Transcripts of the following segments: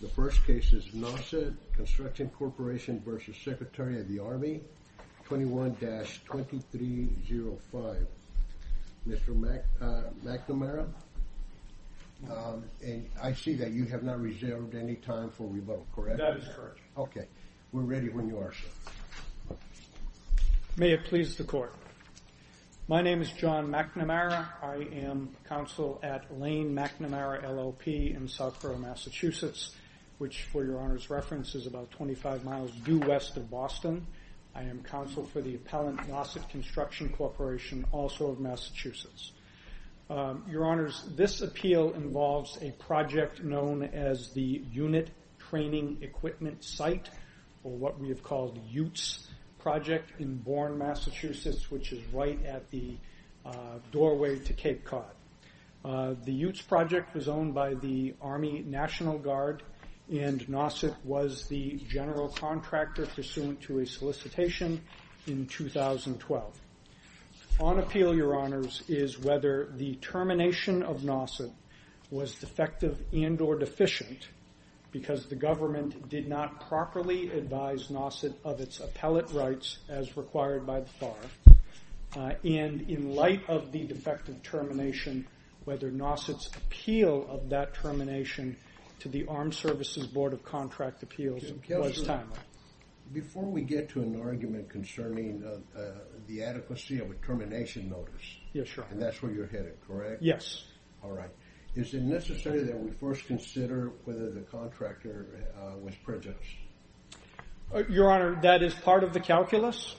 The first case is Nauset Construction Corporation v. Secretary of the Army, 21-2305. Mr. McNamara, and I see that you have not reserved any time for rebuttal, correct? That is correct. Okay, we're ready when you are, sir. May it please the court. My name is John McNamara. I am counsel at which for your honor's reference is about 25 miles due west of Boston. I am counsel for the Appellant Nauset Construction Corporation, also of Massachusetts. Your honors, this appeal involves a project known as the Unit Training Equipment Site, or what we have called UTES Project in Bourne, Massachusetts, which is right at the doorway to Cape Cod. The UTES Project was owned by the Army National Guard and Nauset was the general contractor pursuant to a solicitation in 2012. On appeal, your honors, is whether the termination of Nauset was defective and or deficient because the government did not properly advise Nauset of its appellate rights as required by the FAR. In light of the defective termination, whether Nauset's appeal of that termination to the Armed Services Board of Contract Appeals was timely. Before we get to an argument concerning the adequacy of a termination notice, and that's where you're headed, correct? Yes. Is it necessary that we first consider whether the contractor was prejudiced? Your honor, that is part of the calculus.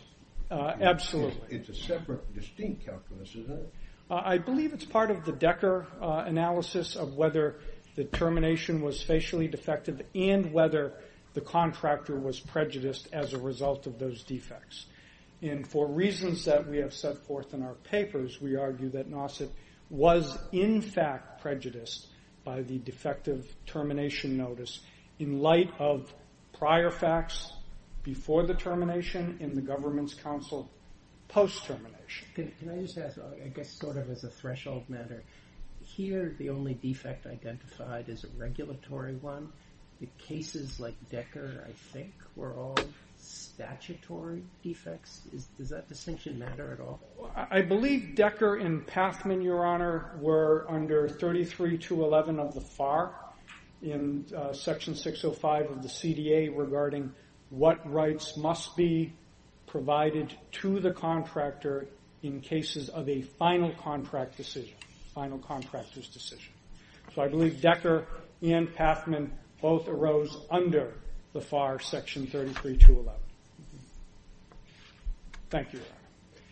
Absolutely. It's a separate distinct calculus, isn't it? I believe it's part of the Decker analysis of whether the termination was facially defective and whether the contractor was prejudiced as a result of those defects. And for reasons that we have set forth in our papers, we argue that Nauset was in fact prejudiced by the defective termination notice in light of prior facts before the termination and the government's counsel post-termination. Can I just ask, I guess sort of as a threshold matter, here the only defect identified is a regulatory one. The cases like Decker, I think, were all statutory defects. Does that distinction matter at all? I believe Decker and Pathman, your honor, were under 33.211 of the FAR in section 605 of the CDA regarding what rights must be provided to the contractor in cases of a final contract decision, final contractor's decision. So I believe Decker and Pathman both arose under the FAR section 33.211. Thank you,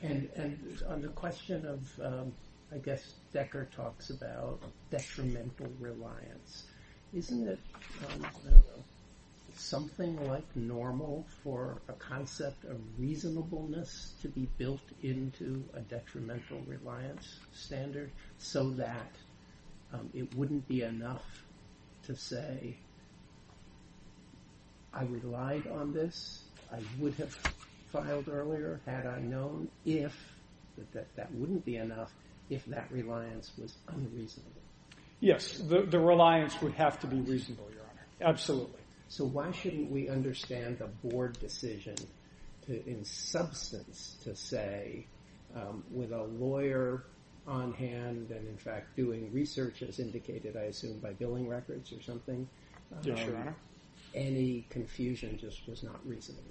your honor. And on the question of, I guess, Decker talks about detrimental reliance. Isn't it something like normal for a concept of reasonableness to be built into a detrimental reliance standard so that it wouldn't be enough to say, I relied on this, I would have filed earlier had I known, if that wouldn't be enough, if that reliance was unreasonable? Yes, the reliance would have to be reasonable, your honor. Absolutely. So why shouldn't we understand the board decision in substance to say, with a lawyer on hand and, in fact, doing research as indicated, I assume, by billing records or something, any confusion just was not reasonable?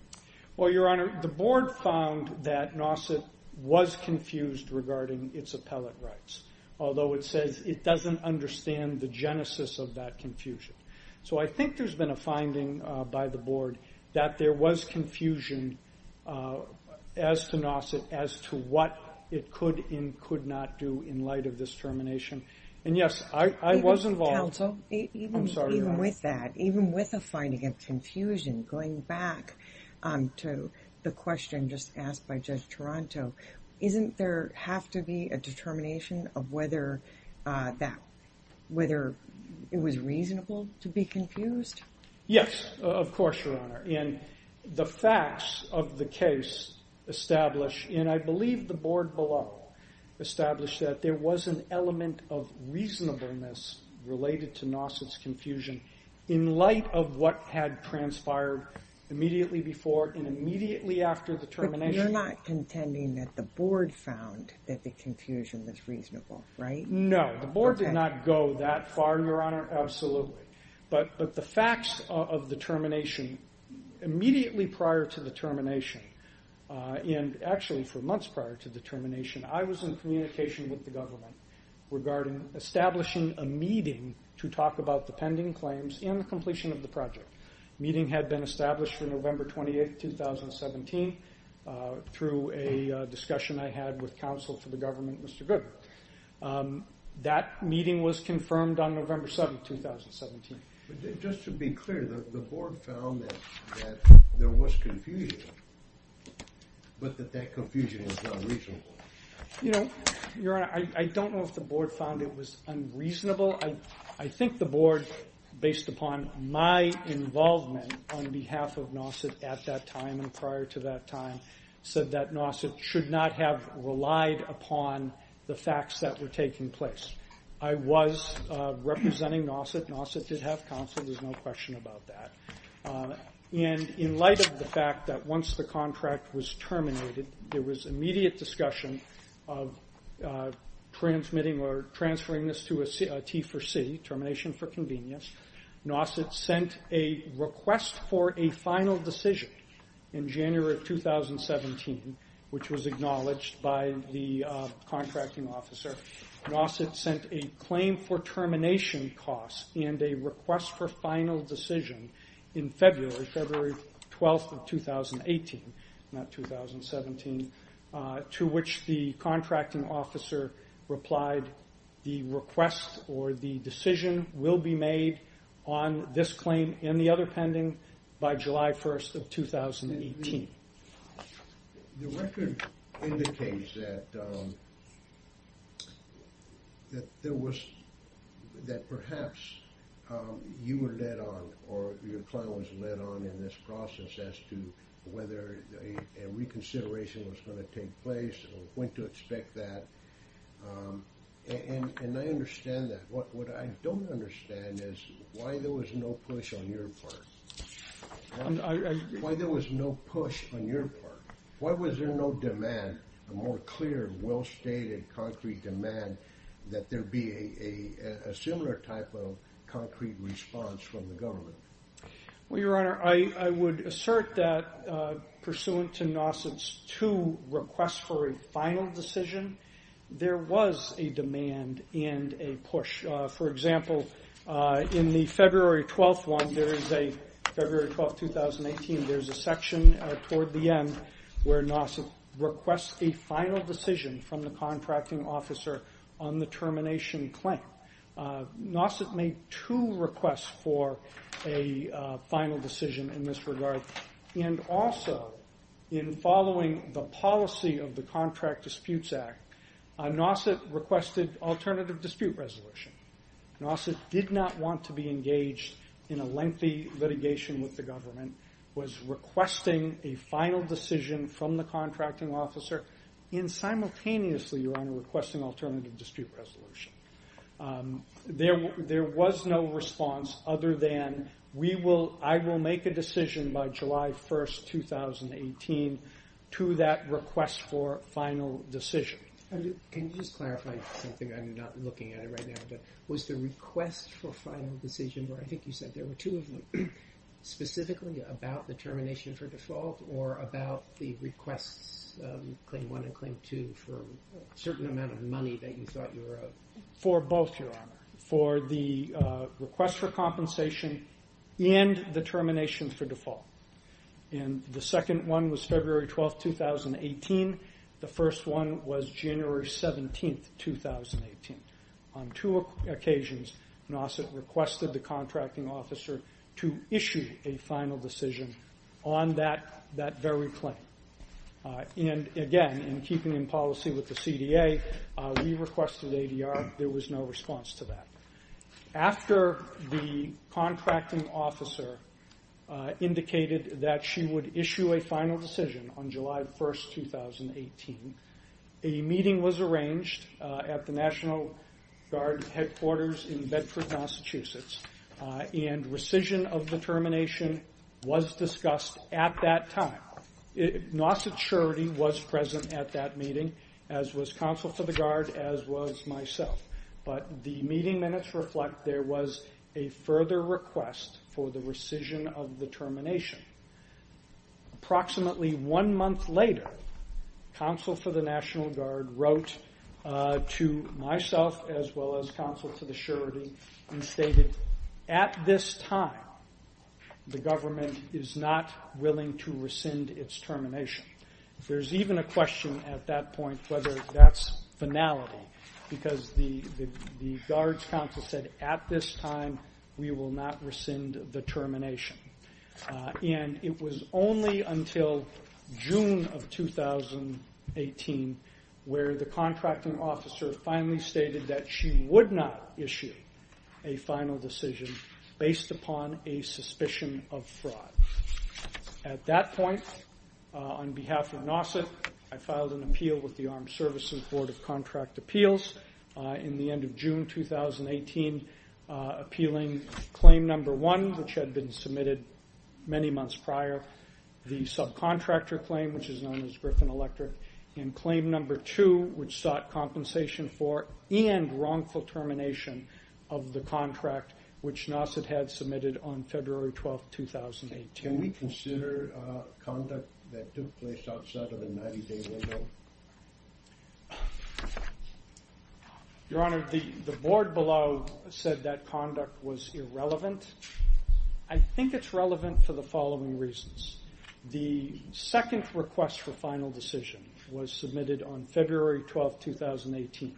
Well, your honor, the board found that NAWCET was confused regarding its appellate rights, although it says it doesn't understand the genesis of that confusion. So I think there's been a confusion as to NAWCET as to what it could and could not do in light of this termination. And yes, I was involved. Even with that, even with a finding of confusion, going back to the question just asked by Judge Toronto, isn't there have to be a determination of whether that, whether it was reasonable to be confused? Yes, of course, your honor. And the facts of the case establish, and I believe the board below established that there was an element of reasonableness related to NAWCET's confusion in light of what had transpired immediately before and immediately after the termination. But you're not contending that the board found that the board did not go that far, your honor? Absolutely. But the facts of the termination, immediately prior to the termination, and actually for months prior to the termination, I was in communication with the government regarding establishing a meeting to talk about the pending claims and the completion of the project. The meeting had been established for November 28, 2017, through a discussion I had with counsel for the government, Mr. Goodwin. That meeting was confirmed on November 7, 2017. But just to be clear, the board found that there was confusion, but that that confusion was unreasonable. You know, your honor, I don't know if the board found it was unreasonable. I think the board, based upon my involvement on behalf of NAWCET at that time and prior to that time, said that NAWCET should not have relied upon the facts that were taking place. I was representing NAWCET. NAWCET did have counsel. There's no question about that. And in light of the fact that once the contract was terminated, there was immediate discussion of transmitting or transferring this to a T4C, termination for final decision in January of 2017, which was acknowledged by the contracting officer. NAWCET sent a claim for termination cost and a request for final decision in February 12, 2018, not 2017, to which the contracting officer replied, the request or the decision will be made on this May 1, 2018. The record indicates that there was, that perhaps you were led on or your client was led on in this process as to whether a reconsideration was going to take place or when to expect that. And I understand that. What I don't understand is why there was no push on your part. Why there was no push on your part? Why was there no demand, a more clear, well-stated, concrete demand that there be a similar type of concrete response from the government? Well, Your Honor, I would assert that pursuant to NAWCET's two requests for a final decision, there was a demand and a push. For example, in the February 12 one, there is a February 12, 2018, there's a section toward the end where NAWCET requests a final decision from the contracting officer on the termination claim. NAWCET made two requests for a final decision in this regard. And also, in following the policy of the Contract Disputes Act, NAWCET requested alternative dispute resolution. NAWCET did not want to be engaged in a lengthy litigation with the government, was requesting a final decision from the contracting officer and simultaneously, Your Honor, requesting alternative dispute resolution. There was no response other than, I will make a decision by July 1, 2018, to that request for final decision. Can you just clarify something? I'm not looking at it right now, but was the request for final decision, where I think you said there were two of them, specifically about the termination for default or about the requests, claim one and claim two, for a certain amount of money that you thought you were owed? For both, Your Honor. For the request for compensation and the termination for default. And the second one was February 12, 2018. The first one was January 17, 2018. On two occasions, NAWCET requested the contracting with the CDA. We requested ADR. There was no response to that. After the contracting officer indicated that she would issue a final decision on July 1, 2018, a meeting was arranged at the National Guard headquarters in Bedford, Massachusetts. And rescission of the termination was discussed at that time. NAWCET surety was present at that meeting, as was Counsel for the Guard, as was myself. But the meeting minutes reflect there was a further request for the rescission of the termination. Approximately one month later, Counsel for the National Guard wrote to myself, as well as Counsel to the surety, and stated, at this time, the government is not willing to rescind its termination. There's even a question at that point whether that's finality, because the Guard's counsel said, at this time, we will not rescind the termination. And it was only until June of 2018 where the contracting officer finally stated that she would not issue a final decision based upon a suspicion of fraud. At that point, on behalf of NAWCET, I filed an appeal with the Armed Services Board of Contract Appeals in the end of June 2018, appealing claim number one, which had been submitted many months prior, the subcontractor claim, which is known as Griffin Electric, and claim number two, which sought compensation for and wrongful termination of the contract, which NAWCET had submitted on February 12, 2018. Can we consider conduct that took place outside of the 90-day window? Your Honor, the board below said that conduct was irrelevant. I think it's relevant for the following reasons. The second request for final decision was submitted on February 12, 2018,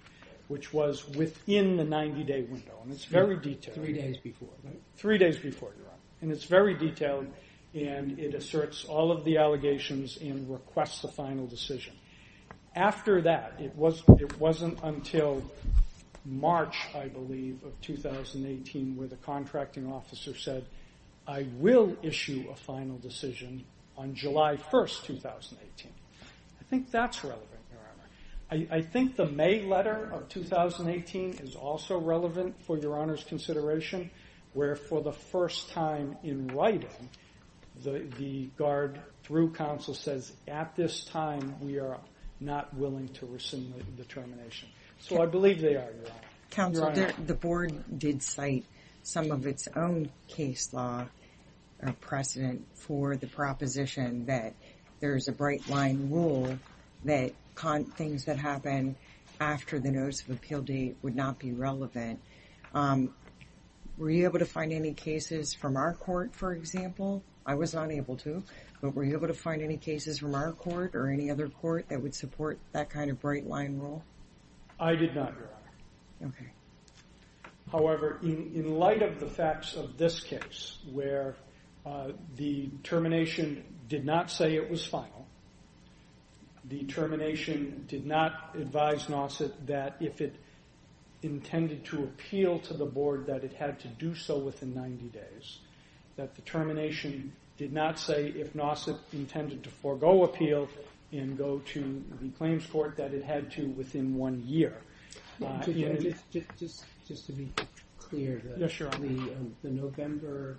which was within the 90-day window, and it's very detailed. Three days before, right? Three days before, Your Honor, and it's very detailed, and it asserts all of the allegations and requests a final decision. After that, it wasn't until March, I believe, of 2018, where the contracting officer said, I will issue a final decision on July 1, 2018. I think that's relevant, Your Honor. I think the May letter of 2018 is also relevant for Your Honor's consideration, where for the first time in writing, the guard through counsel says, at this time, we are not willing to rescind the termination. So, I believe they are, Your Honor. Counsel, the board did cite some of its own case law precedent for the proposition that there is a bright line rule that things that happen after the notice of appeal date would not be relevant. Were you able to find any cases from our court, for example? I was not able to, but were you able to find any cases from our court or any other court that would support that kind of bright line rule? I did not, Your Honor. Okay. However, in light of the facts of this case, where the termination did not say it was final, the termination did not advise Nauset that if it intended to appeal to the board, that it had to do so within 90 days. That the termination did not say if Nauset intended to forego appeal and go to the claims court, that it had to within one year. Just to be clear, the November,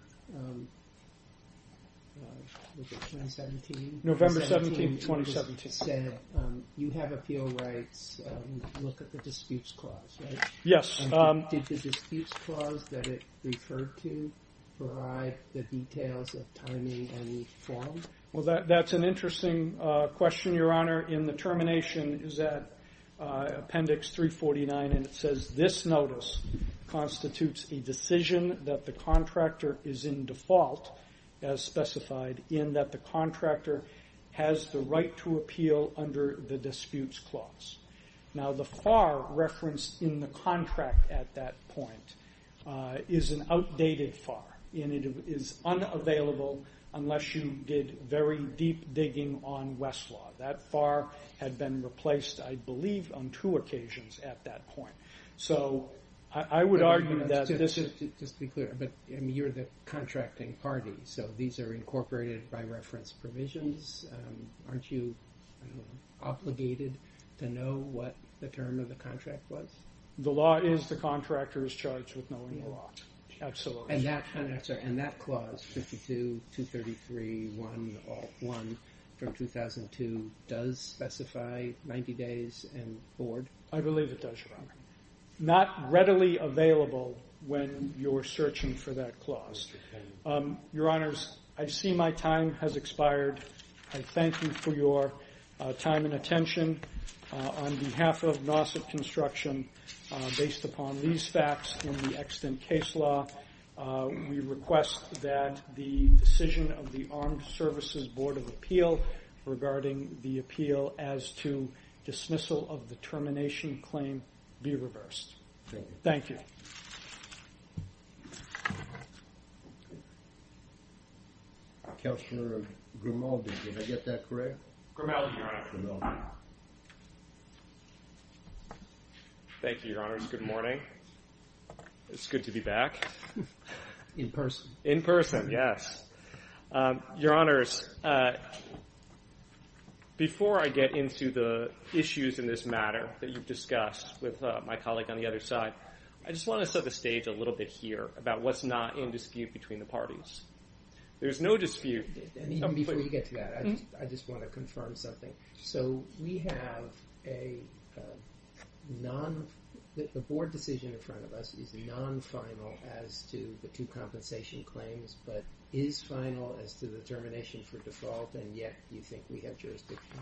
was it 2017? November 17, 2017. You have appeal rights. Look at the disputes clause, right? Yes. Did the disputes clause that it referred to provide the details of timing and form? Well, that's an interesting question, Your Honor. In the termination is that appendix 349, and it says this notice constitutes a decision that the contractor is in default, as specified, in that the contractor has the right to appeal under the disputes clause. Now, the FAR referenced in the contract at that point is an outdated FAR, and it is unavailable unless you did very deep digging on Westlaw. That FAR had been replaced, I believe, on two occasions at that point. So, I would argue that this is... Just to be clear, but you're the contracting party, so these are incorporated by reference provisions. Aren't you obligated to know what the term of the contract was? The law is the contractor is charged with knowing the law. Absolutely. And that clause, 52-233-101 from 2002, does specify 90 days and board? I believe it does, Your Honor. Not readily available when you're searching for that clause. Your Honors, I see my time has expired. I thank you for your time and attention. On behalf of NAWCET Construction, based upon these facts in the extant case law, we request that the decision of the Armed Services Board of Appeal regarding the appeal as to dismissal of the termination claim be reversed. Thank you. Counselor Grimaldi, did I get that correct? Grimaldi, Your Honor. Thank you, Your Honors. Good morning. It's good to be back. In person. In person, yes. Your Honors, before I get into the issues in this matter that you've discussed with my colleague on the other side, I just want to set the stage a little bit here about what's not in dispute between the parties. There's no dispute. Before you get to that, I just want to confirm something. So we have a board decision in front of us is non-final as to the two compensation claims, but is final as to the termination for default, and yet you think we have jurisdiction?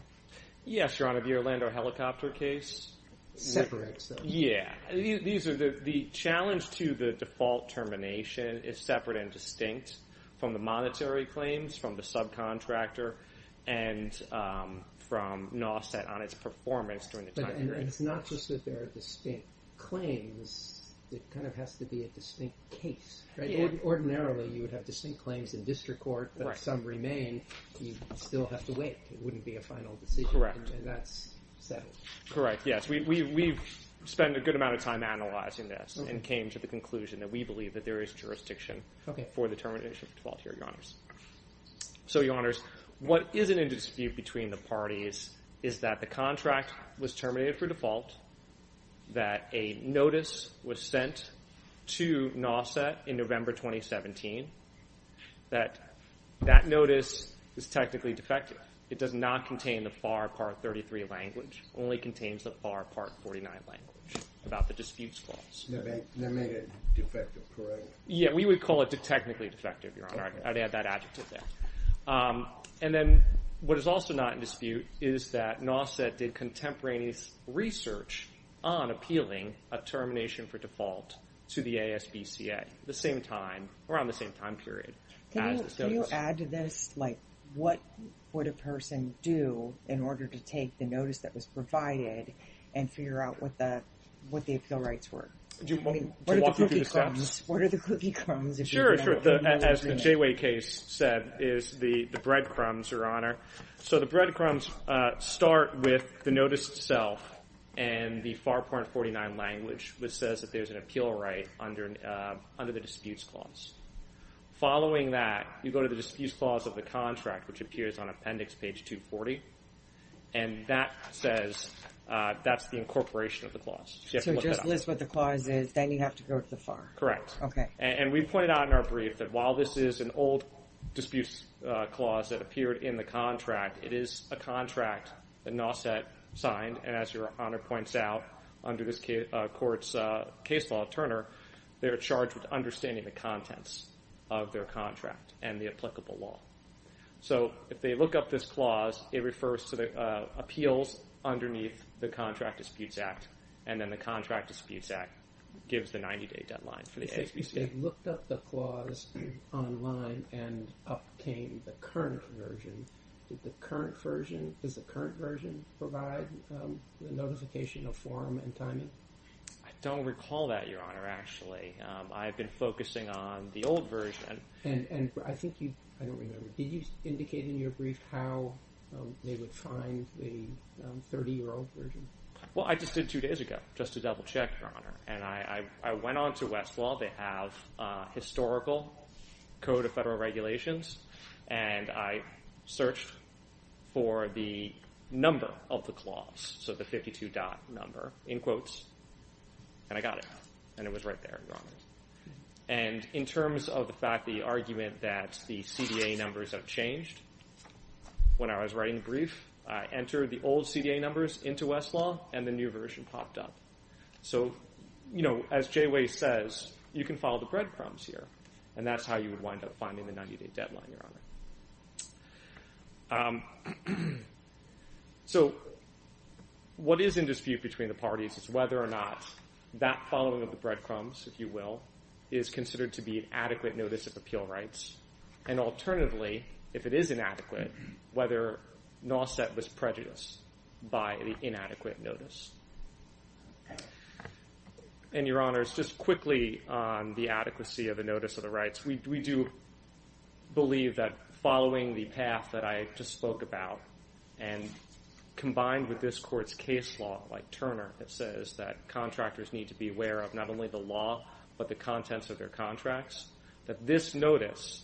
Yes, Your Honor. The Orlando helicopter case. Separate, so. Yeah. The challenge to the default termination is separate and distinct from the monetary claims, from the subcontractor, and from NAWCET on its performance during the time period. It's not just that they're distinct claims. It kind of has to be a distinct case, right? Ordinarily, you would have distinct claims in district court, but if some remain, you still have to wait. It wouldn't be a final decision. Correct. And that's settled. Correct, yes. We've spent a good amount of time analyzing this and came to the conclusion that we believe that there is jurisdiction for the termination of default here, Your Honors. So, Your Honors, what isn't in dispute between the parties is that the contract was terminated for default, that a notice was sent to NAWCET in November 2017, that that notice is technically defective. It does not contain the FAR Part 33 language. Only contains the FAR Part 49 language about the disputes clause. They made it defective, correct? Yeah, we would call it technically defective, Your Honor. I'd add that adjective there. And then what is also not in dispute is that NAWCET did contemporaneous research on appealing a termination for default to the ASBCA at the same time, around the same time period. Can you add to this, like, what would a person do in order to take the notice that was provided and figure out what the appeal rights were? Do you want me to walk you through the steps? What are the cookie crumbs? Sure, sure. As the Jayway case said, is the breadcrumbs, Your Honor. So the breadcrumbs start with the notice itself and the FAR Part 49 language, which says that there's an appeal right under the disputes clause. Following that, you go to the disputes clause of the contract, which appears on appendix page 240, and that says that's the incorporation of the clause. So just list what the clause is, then you have to go to the FAR. Correct. Okay. And we pointed out in our brief that while this is an old disputes clause that appeared in the contract, it is a contract that NAWCET signed. And as Your Honor points out, under this court's case law, Turner, they're charged with understanding the contents of their contract and the applicable law. So if they look up this clause, it refers to the Contract Disputes Act, and then the Contract Disputes Act gives the 90-day deadline for the ASPCA. If they looked up the clause online and obtained the current version, does the current version provide the notification of form and timing? I don't recall that, Your Honor, actually. I've been focusing on the old version. And I think you, I don't remember, did you Well, I just did two days ago, just to double check, Your Honor. And I went on to Westlaw. They have historical Code of Federal Regulations. And I searched for the number of the clause, so the 52-dot number, in quotes, and I got it. And it was right there, Your Honor. And in terms of the fact, the argument that the CDA numbers have changed, when I was writing the brief, I entered the old CDA numbers into Westlaw, and the new version popped up. So, you know, as Jayway says, you can follow the breadcrumbs here. And that's how you would wind up finding the 90-day deadline, Your Honor. So what is in dispute between the parties is whether or not that following of the breadcrumbs, if you will, is considered to be an adequate notice of appeal rights. And alternatively, if it is inadequate, whether NAWCET was prejudiced by the inadequate notice. And Your Honor, just quickly on the adequacy of the notice of the rights, we do believe that following the path that I just spoke about, and combined with this Court's case law, like Turner, that says that contractors need to be aware of not only the law, but the contents of their contracts, that this notice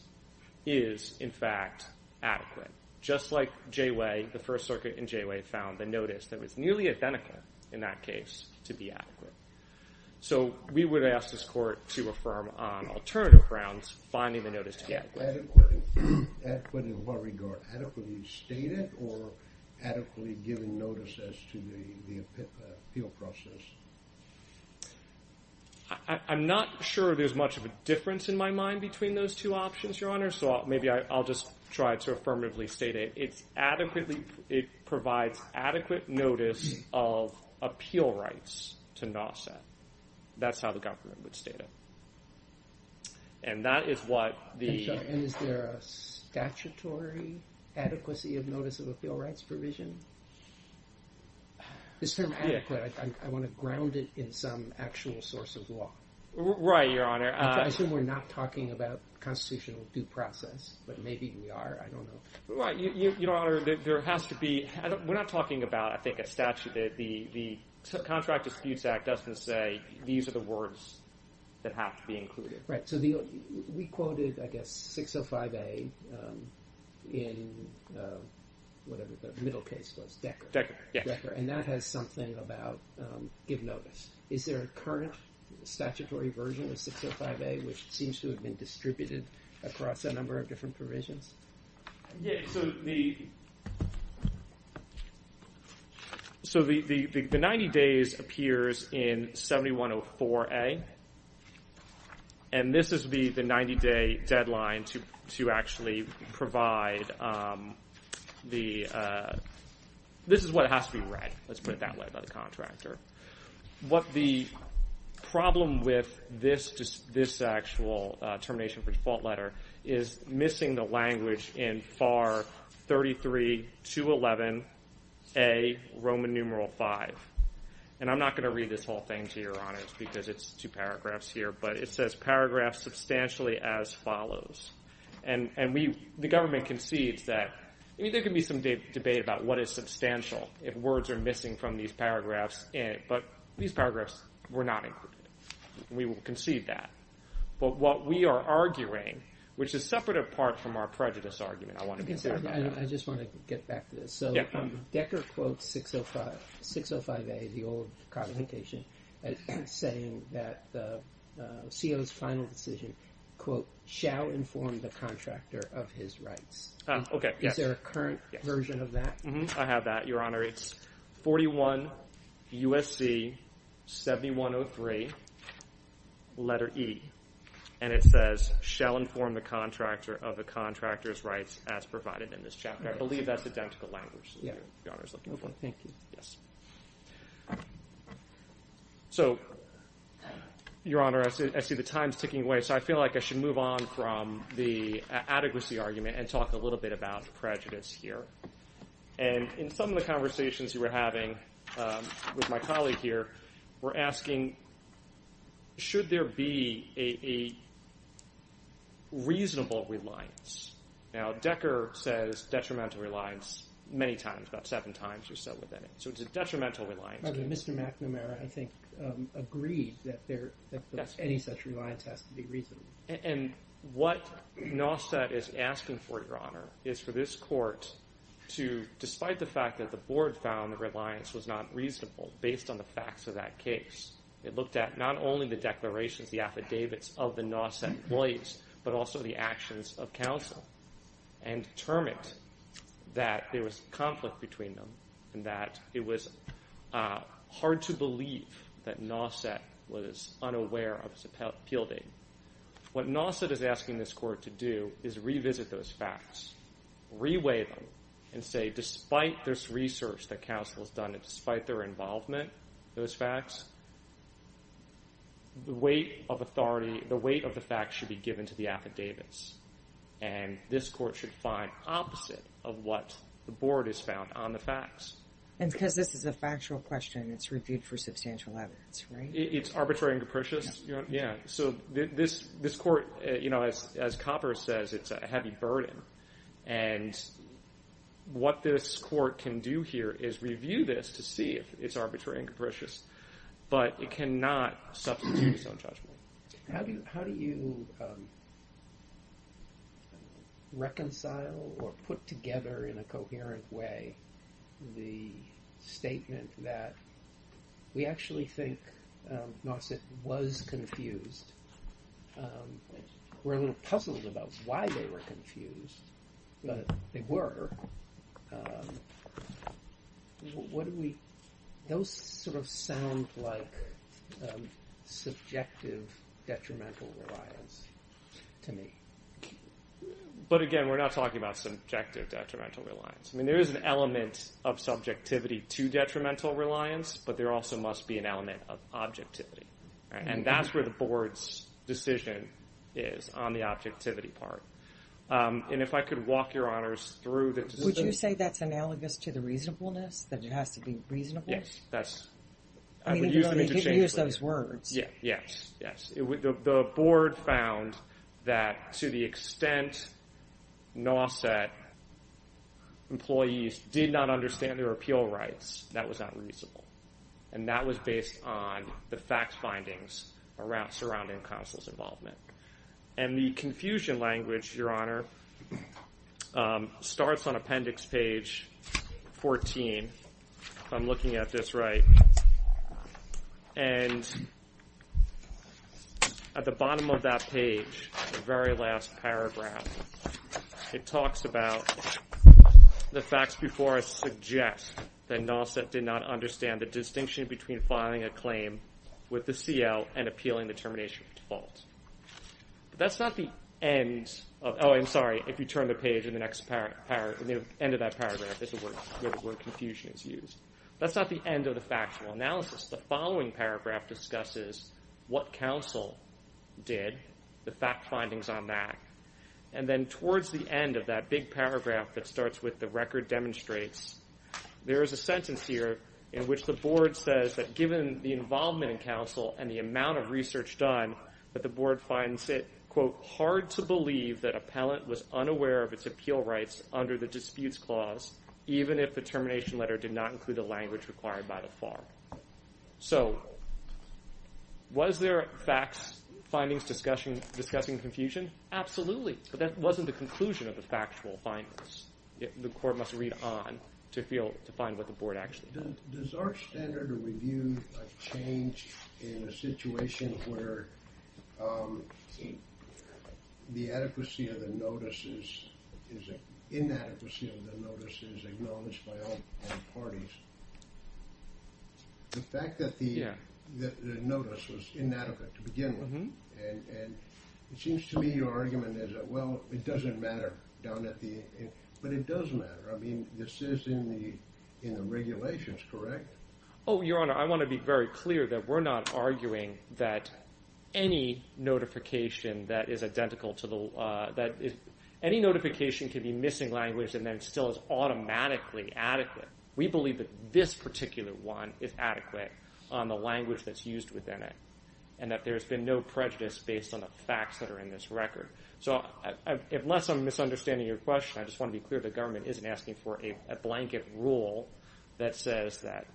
is, in fact, adequate. Just like Jayway, the First Circuit in Jayway found the notice that was nearly identical in that case to be adequate. So we would ask this Court to affirm on alternative grounds finding the notice to be adequate. Adequate in what regard? Adequately stated or adequately given notice as to the appeal process? I'm not sure there's much of a difference in my mind between those two options, Your Honor. So maybe I'll just try to affirmatively state it. It's adequately, it provides adequate notice of appeal rights to NAWCET. That's how the government would state it. And that is what the... And is there a statutory adequacy of notice of appeal rights provision? It's termed adequate. I want to ground it in some actual source of law. Right, Your Honor. I assume we're not talking about constitutional due process, but maybe we are. I don't know. Right. Your Honor, there has to be... We're not talking about, I think, a statute. The Contract Disputes Act doesn't say these are the words that have to be included. Right. So we quoted, I guess, 605A in whatever the middle case was, Decker. And that has something about give notice. Is there a current statutory version of 605A which seems to have been distributed across a number of different provisions? So the 90 days appears in 7104A and this is the 90 day deadline to actually provide the... This is what has to be read. Let's put it that way by the contractor. What the problem with this actual termination for default letter is missing the language in FAR 33-211A, Roman numeral 5. And I'm not going to read this whole thing to Your Honor because it's two paragraphs here, but it says paragraphs substantially as follows. And the government concedes that... I mean, there can be some debate about what is substantial if words are missing from these paragraphs, but these paragraphs were not included. We will concede that. But what we are arguing, which is separate apart from our prejudice argument, I want to be clear about that. I just want to get back to this. So Decker quotes 605A, the old cognition, saying that the CO's final decision, quote, shall inform the contractor of his rights. Okay. Is there a current version of that? I have that, Your Honor. It's 41 USC 7103 letter E and it says shall inform the contractor of the contractor's rights as provided in this document. So, Your Honor, I see the time's ticking away, so I feel like I should move on from the adequacy argument and talk a little bit about prejudice here. And in some of the conversations we were having with my colleague here, we're asking, should there be a reasonable reliance? Now, Decker says detrimental reliance many times, about seven times or so within it. So it's a Mr. McNamara, I think, agreed that any such reliance has to be reasonable. And what NOSET is asking for, Your Honor, is for this court to, despite the fact that the board found the reliance was not reasonable based on the facts of that case, it looked at not only the declarations, the affidavits of the NOSET employees, but also the actions of counsel and determined that there was conflict between them and that it was hard to believe that NOSET was unaware of its appeal date. What NOSET is asking this court to do is revisit those facts, reweigh them, and say despite this research that counsel has done and despite their involvement in those facts, the weight of authority, the weight of the facts should be given to the affidavits. And this court should find opposite of what the board has found on the facts. And because this is a factual question, it's reviewed for substantial evidence, right? It's arbitrary and capricious. Yeah. So this court, as Copper says, it's a heavy burden. And what this court can do here is review this to see if it's arbitrary and capricious, but it cannot substitute its own judgment. How do you reconcile or put together in a coherent way the statement that we actually think NOSET was confused? We're a little puzzled about why they were confused, but they were. Those sort of sound like subjective detrimental reliance to me. But again, we're not talking about subjective detrimental reliance. I mean, there is an element of subjectivity to detrimental reliance, but there also must be an element of objectivity. And that's where the board's decision is on the objectivity part. And if I could walk your honors through the decision... Would you say that's analogous to the reasonableness, that it has to be reasonable? Yes, that's... I would use them interchangeably. You could use those words. Yeah, yes, yes. The board found that to the extent NOSET employees did not understand their appeal rights, that was not reasonable. And that was based on the facts findings surrounding counsel's involvement. And the confusion language, your honor, starts on appendix page 14, if I'm looking at this right. And at the bottom of that page, the very last paragraph, it talks about the facts before I suggest that NOSET did not understand the distinction between filing a claim with the CL and appealing the termination of default. That's not the end of... Oh, I'm sorry, if you turn the page in the next end of that paragraph is where confusion is used. That's not the end of the factual analysis. The following paragraph discusses what counsel did, the fact findings on that. And then towards the end of that big paragraph that starts with the record demonstrates, there is a sentence here in which the board says that given the involvement in counsel and the amount of research done, that the board finds it, quote, hard to believe that appellant was unaware of its appeal rights under the disputes clause, even if the termination letter did not include the language required by the FAR. So was there facts findings discussing confusion? Absolutely. But that wasn't the conclusion of the factual findings. The court must read on to feel, to find what the board actually does. Does our standard of review change in a situation where the adequacy of the notices is an inadequacy of the notices acknowledged by all parties? The fact that the notice was inadequate to begin with. And it seems to me your argument well, it doesn't matter down at the, but it does matter. I mean, this is in the regulations, correct? Oh, your honor, I want to be very clear that we're not arguing that any notification that is identical to the, that any notification can be missing language and then still is automatically adequate. We believe that this particular one is adequate on the language that's used within it. And that there's been no prejudice based on the facts that are in this record. So unless I'm misunderstanding your question, I just want to be clear, the government isn't asking for a blanket rule that says that,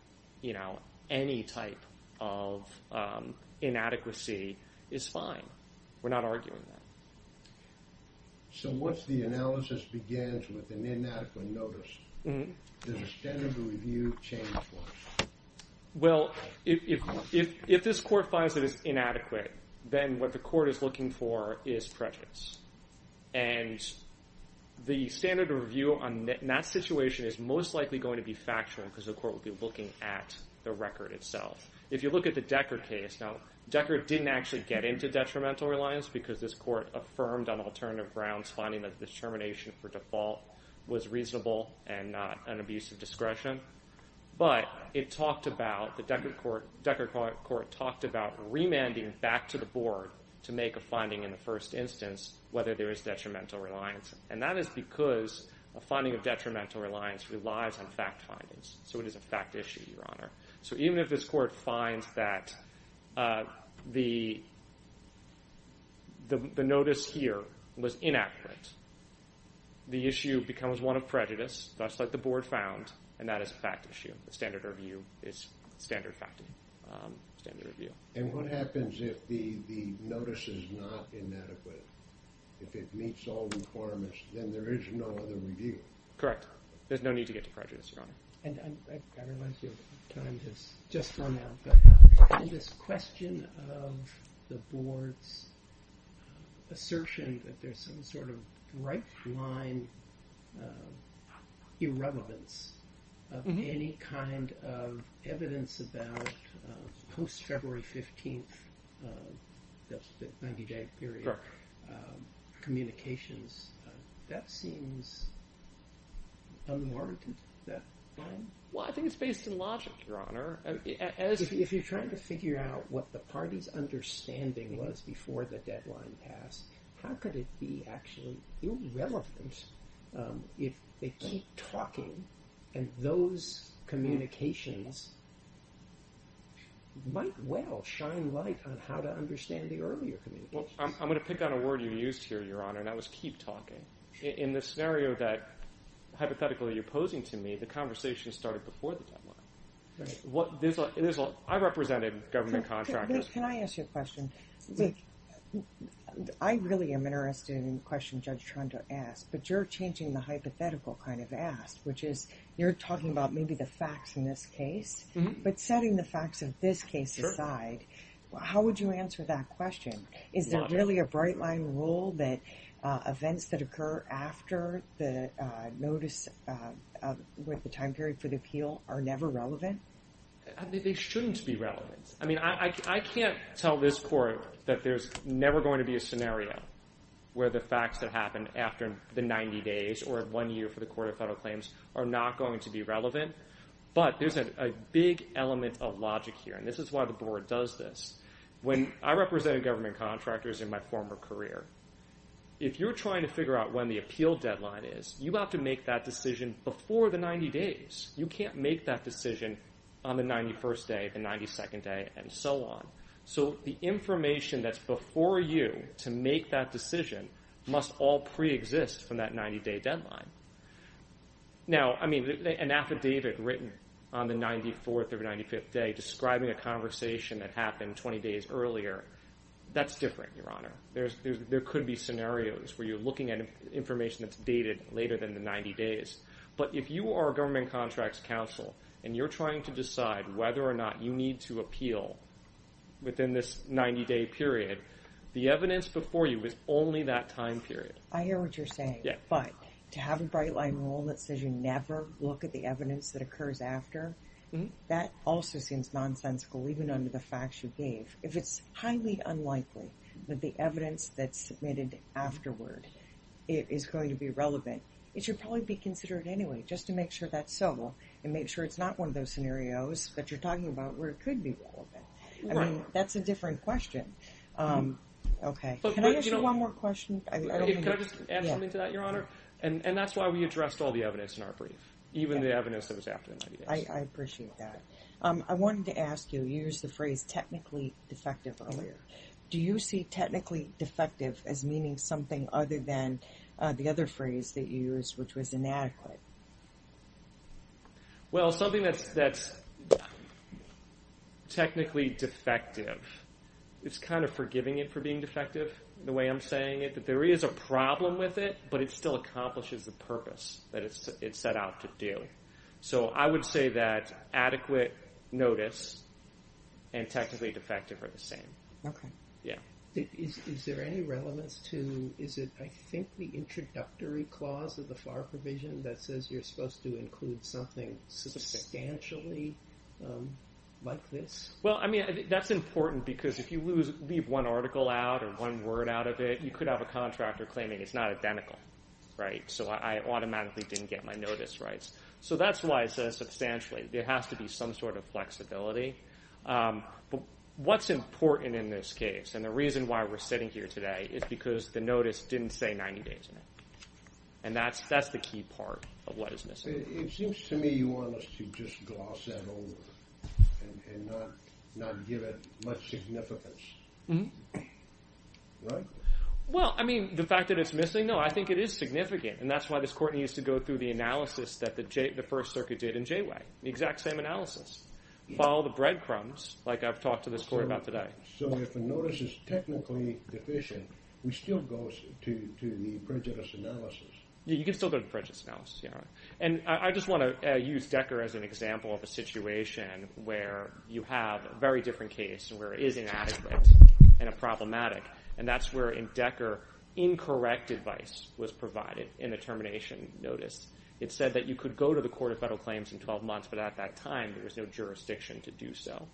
you know, any type of inadequacy is fine. We're not arguing that. So once the analysis begins with an inadequate notice, does the standard of review change for us? Well, if this court finds that it's inadequate, then what the court is looking for is prejudice. And the standard of review on that situation is most likely going to be factual because the court will be looking at the record itself. If you look at the Decker case, now, Decker didn't actually get into detrimental reliance because this court affirmed on alternative grounds, finding that determination for default was reasonable and not an abuse of discretion. But it talked about the Decker court, Decker to the board to make a finding in the first instance, whether there is detrimental reliance. And that is because a finding of detrimental reliance relies on fact findings. So it is a fact issue, Your Honor. So even if this court finds that the notice here was inaccurate, the issue becomes one of prejudice, just like the board found, and that is a fact issue. The standard of review. And what happens if the notice is not inadequate? If it meets all the requirements, then there is no other review. Correct. There's no need to get to prejudice, Your Honor. And I realize your time has just run out, but in this question of the board's assertion that there's some sort of right-blind irrelevance of any kind of evidence about post-February 15th, that's the 90-day period, communications, that seems unremarkable at that time. Well, I think it's based in logic, Your Honor. If you're trying to figure out what the party's understanding was before the deadline passed, how could it be actually irrelevant if they keep talking and those communications might well shine light on how to understand the earlier communications? Well, I'm going to pick on a word you used here, Your Honor, and that was keep talking. In the scenario that, hypothetically, you're posing to me, the conversation started before the deadline. Right. I represented government contractors. Can I ask you a question? I really am interested in the question Judge Toronto asked, but you're changing the hypothetical kind of ask, which is, you're talking about maybe the facts in this case, but setting the facts of this case aside, how would you answer that question? Is there really a bright-line rule that events that occur after the notice of the time period for the appeal are never relevant? They shouldn't be relevant. I mean, I can't tell this Court that there's never going to be a scenario where the facts that happen after the 90 days or one year for the Court of Federal Claims are not going to be relevant, but there's a big element of logic here, and this is why the Board does this. When I represented government contractors in my former career, if you're trying to figure out when the appeal deadline is, you have to make that decision before the 90 days. You can't make that decision on the 91st day, the 92nd day, and so on. So the information that's before you to make that decision must all pre-exist from that 90-day deadline. Now, I mean, an affidavit written on the 94th or 95th day describing a conversation that happened 20 days earlier, that's different, Your Honor. There could be scenarios where you're looking at information that's dated later than the 90 days, but if you are a government contracts counsel and you're trying to decide whether or not you need to appeal within this 90-day period, the evidence before you is only that time period. I hear what you're saying, but to have a bright-line rule that says you never look at the evidence that occurs after, that also seems nonsensical, even under the facts you gave. If it's highly unlikely that the evidence that's submitted afterward is going to be relevant, it should probably be considered anyway, just to make sure that's civil and make sure it's not one of those scenarios that you're talking about where it could be relevant. I mean, that's a different question. Okay. Can I ask you one more question? Can I just add something to that, Your Honor? And that's why we addressed all the evidence in our brief, even the evidence that was after the 90 days. I appreciate that. I wanted to ask you, you used the phrase technically defective earlier. Do you see technically defective as meaning something other than the other phrase that you used, which was inadequate? Well, something that's technically defective, it's kind of forgiving it for being defective, the way I'm saying it, that there is a purpose that it's set out to do. So I would say that adequate notice and technically defective are the same. Okay. Yeah. Is there any relevance to, is it, I think, the introductory clause of the FAR provision that says you're supposed to include something substantially like this? Well, I mean, that's important because if you leave one article out or one word out of it, you could have a contractor claiming it's not identical, right? So I automatically didn't get my notice rights. So that's why it says substantially. There has to be some sort of flexibility. But what's important in this case, and the reason why we're sitting here today, is because the notice didn't say 90 days in it. And that's the key part of what is missing. It seems to me you just gloss that over and not give it much significance. Right? Well, I mean, the fact that it's missing, no, I think it is significant. And that's why this court needs to go through the analysis that the first circuit did in Jayway. The exact same analysis. Follow the breadcrumbs, like I've talked to this court about today. So if the notice is technically deficient, we still go to the prejudice analysis. Yeah, you can still go to prejudice analysis. And I just want to use Decker as an example of a situation where you have a very different case where it is inadequate and problematic. And that's where in Decker, incorrect advice was provided in the termination notice. It said that you could go to the Court of Federal Claims in 12 months, but at that time, there was no jurisdiction to do so.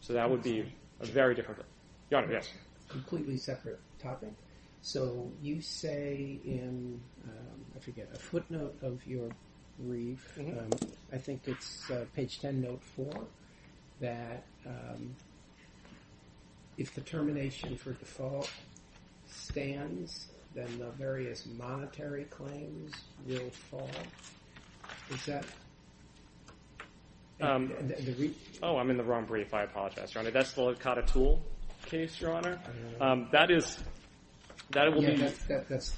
So that would be a very different. Your Honor, yes. Completely separate topic. So you say in, I forget, a footnote of your brief, I think it's page 10, note four, that if the termination for default stands, then the various monetary claims will fall. Is that? Um, oh, I'm in the wrong brief. I apologize, Your Honor. That's the Licata Tool case, Your Honor. That is, that will be. That's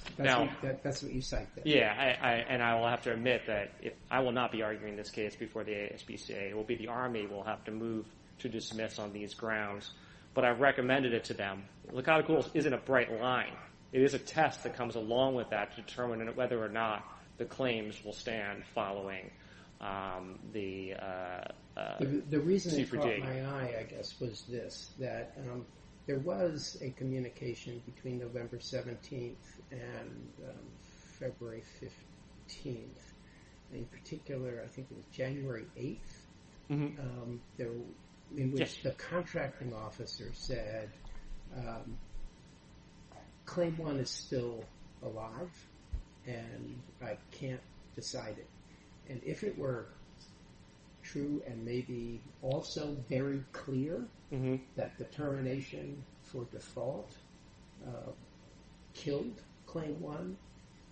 what you cite. Yeah, and I will have to admit that I will not be arguing this case before the ASPCA. It will be the Army will have to move to dismiss on these grounds. But I recommended it to them. Licata Tools isn't a bright line. It is a test that comes along with that to determine whether or not the claims will stand following the... The reason it caught my eye, I guess, was this, that there was a communication between November 17th and February 15th. In particular, I think it was January 8th, in which the contracting officer said, Claim 1 is still alive and I can't decide it. And if it were true and maybe also very clear that the termination for default killed Claim 1,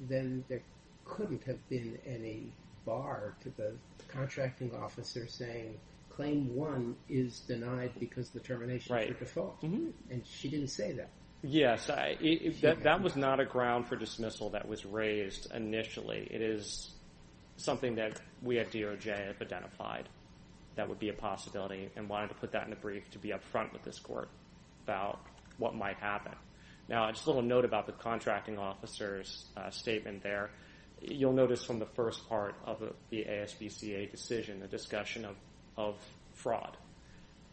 then there couldn't have been any bar to the Claim 1 is denied because the termination for default. And she didn't say that. Yes, that was not a ground for dismissal that was raised initially. It is something that we at DOJ have identified that would be a possibility and wanted to put that in a brief to be up front with this court about what might happen. Now, just a little note about the contracting officer's statement there. You'll notice from the first part of the ASPCA decision, the discussion of fraud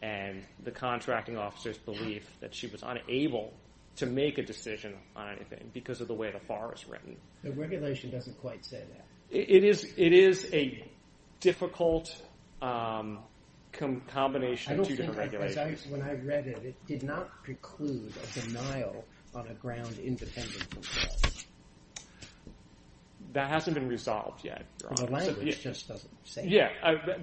and the contracting officer's belief that she was unable to make a decision on anything because of the way the bar is written. The regulation doesn't quite say that. It is a difficult combination of two different regulations. When I read it, it did not preclude a denial on a ground independent from default. That hasn't been resolved yet. The language just doesn't say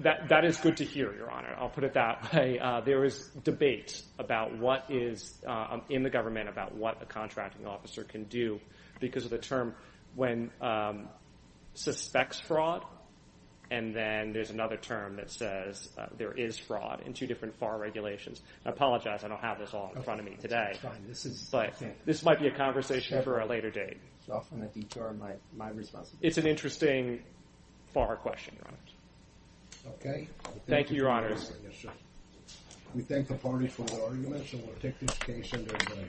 that. That is good to hear, Your Honor. I'll put it that way. There is debate in the government about what a contracting officer can do because of the term when suspects fraud. And then there's another term that says there is fraud in two different FAR regulations. I apologize. I don't have this all in front of me today. This might be a conversation for a later date. It's an interesting FAR question, Your Honor. Okay. Thank you, Your Honors. We thank the parties for their arguments and we'll take this case into the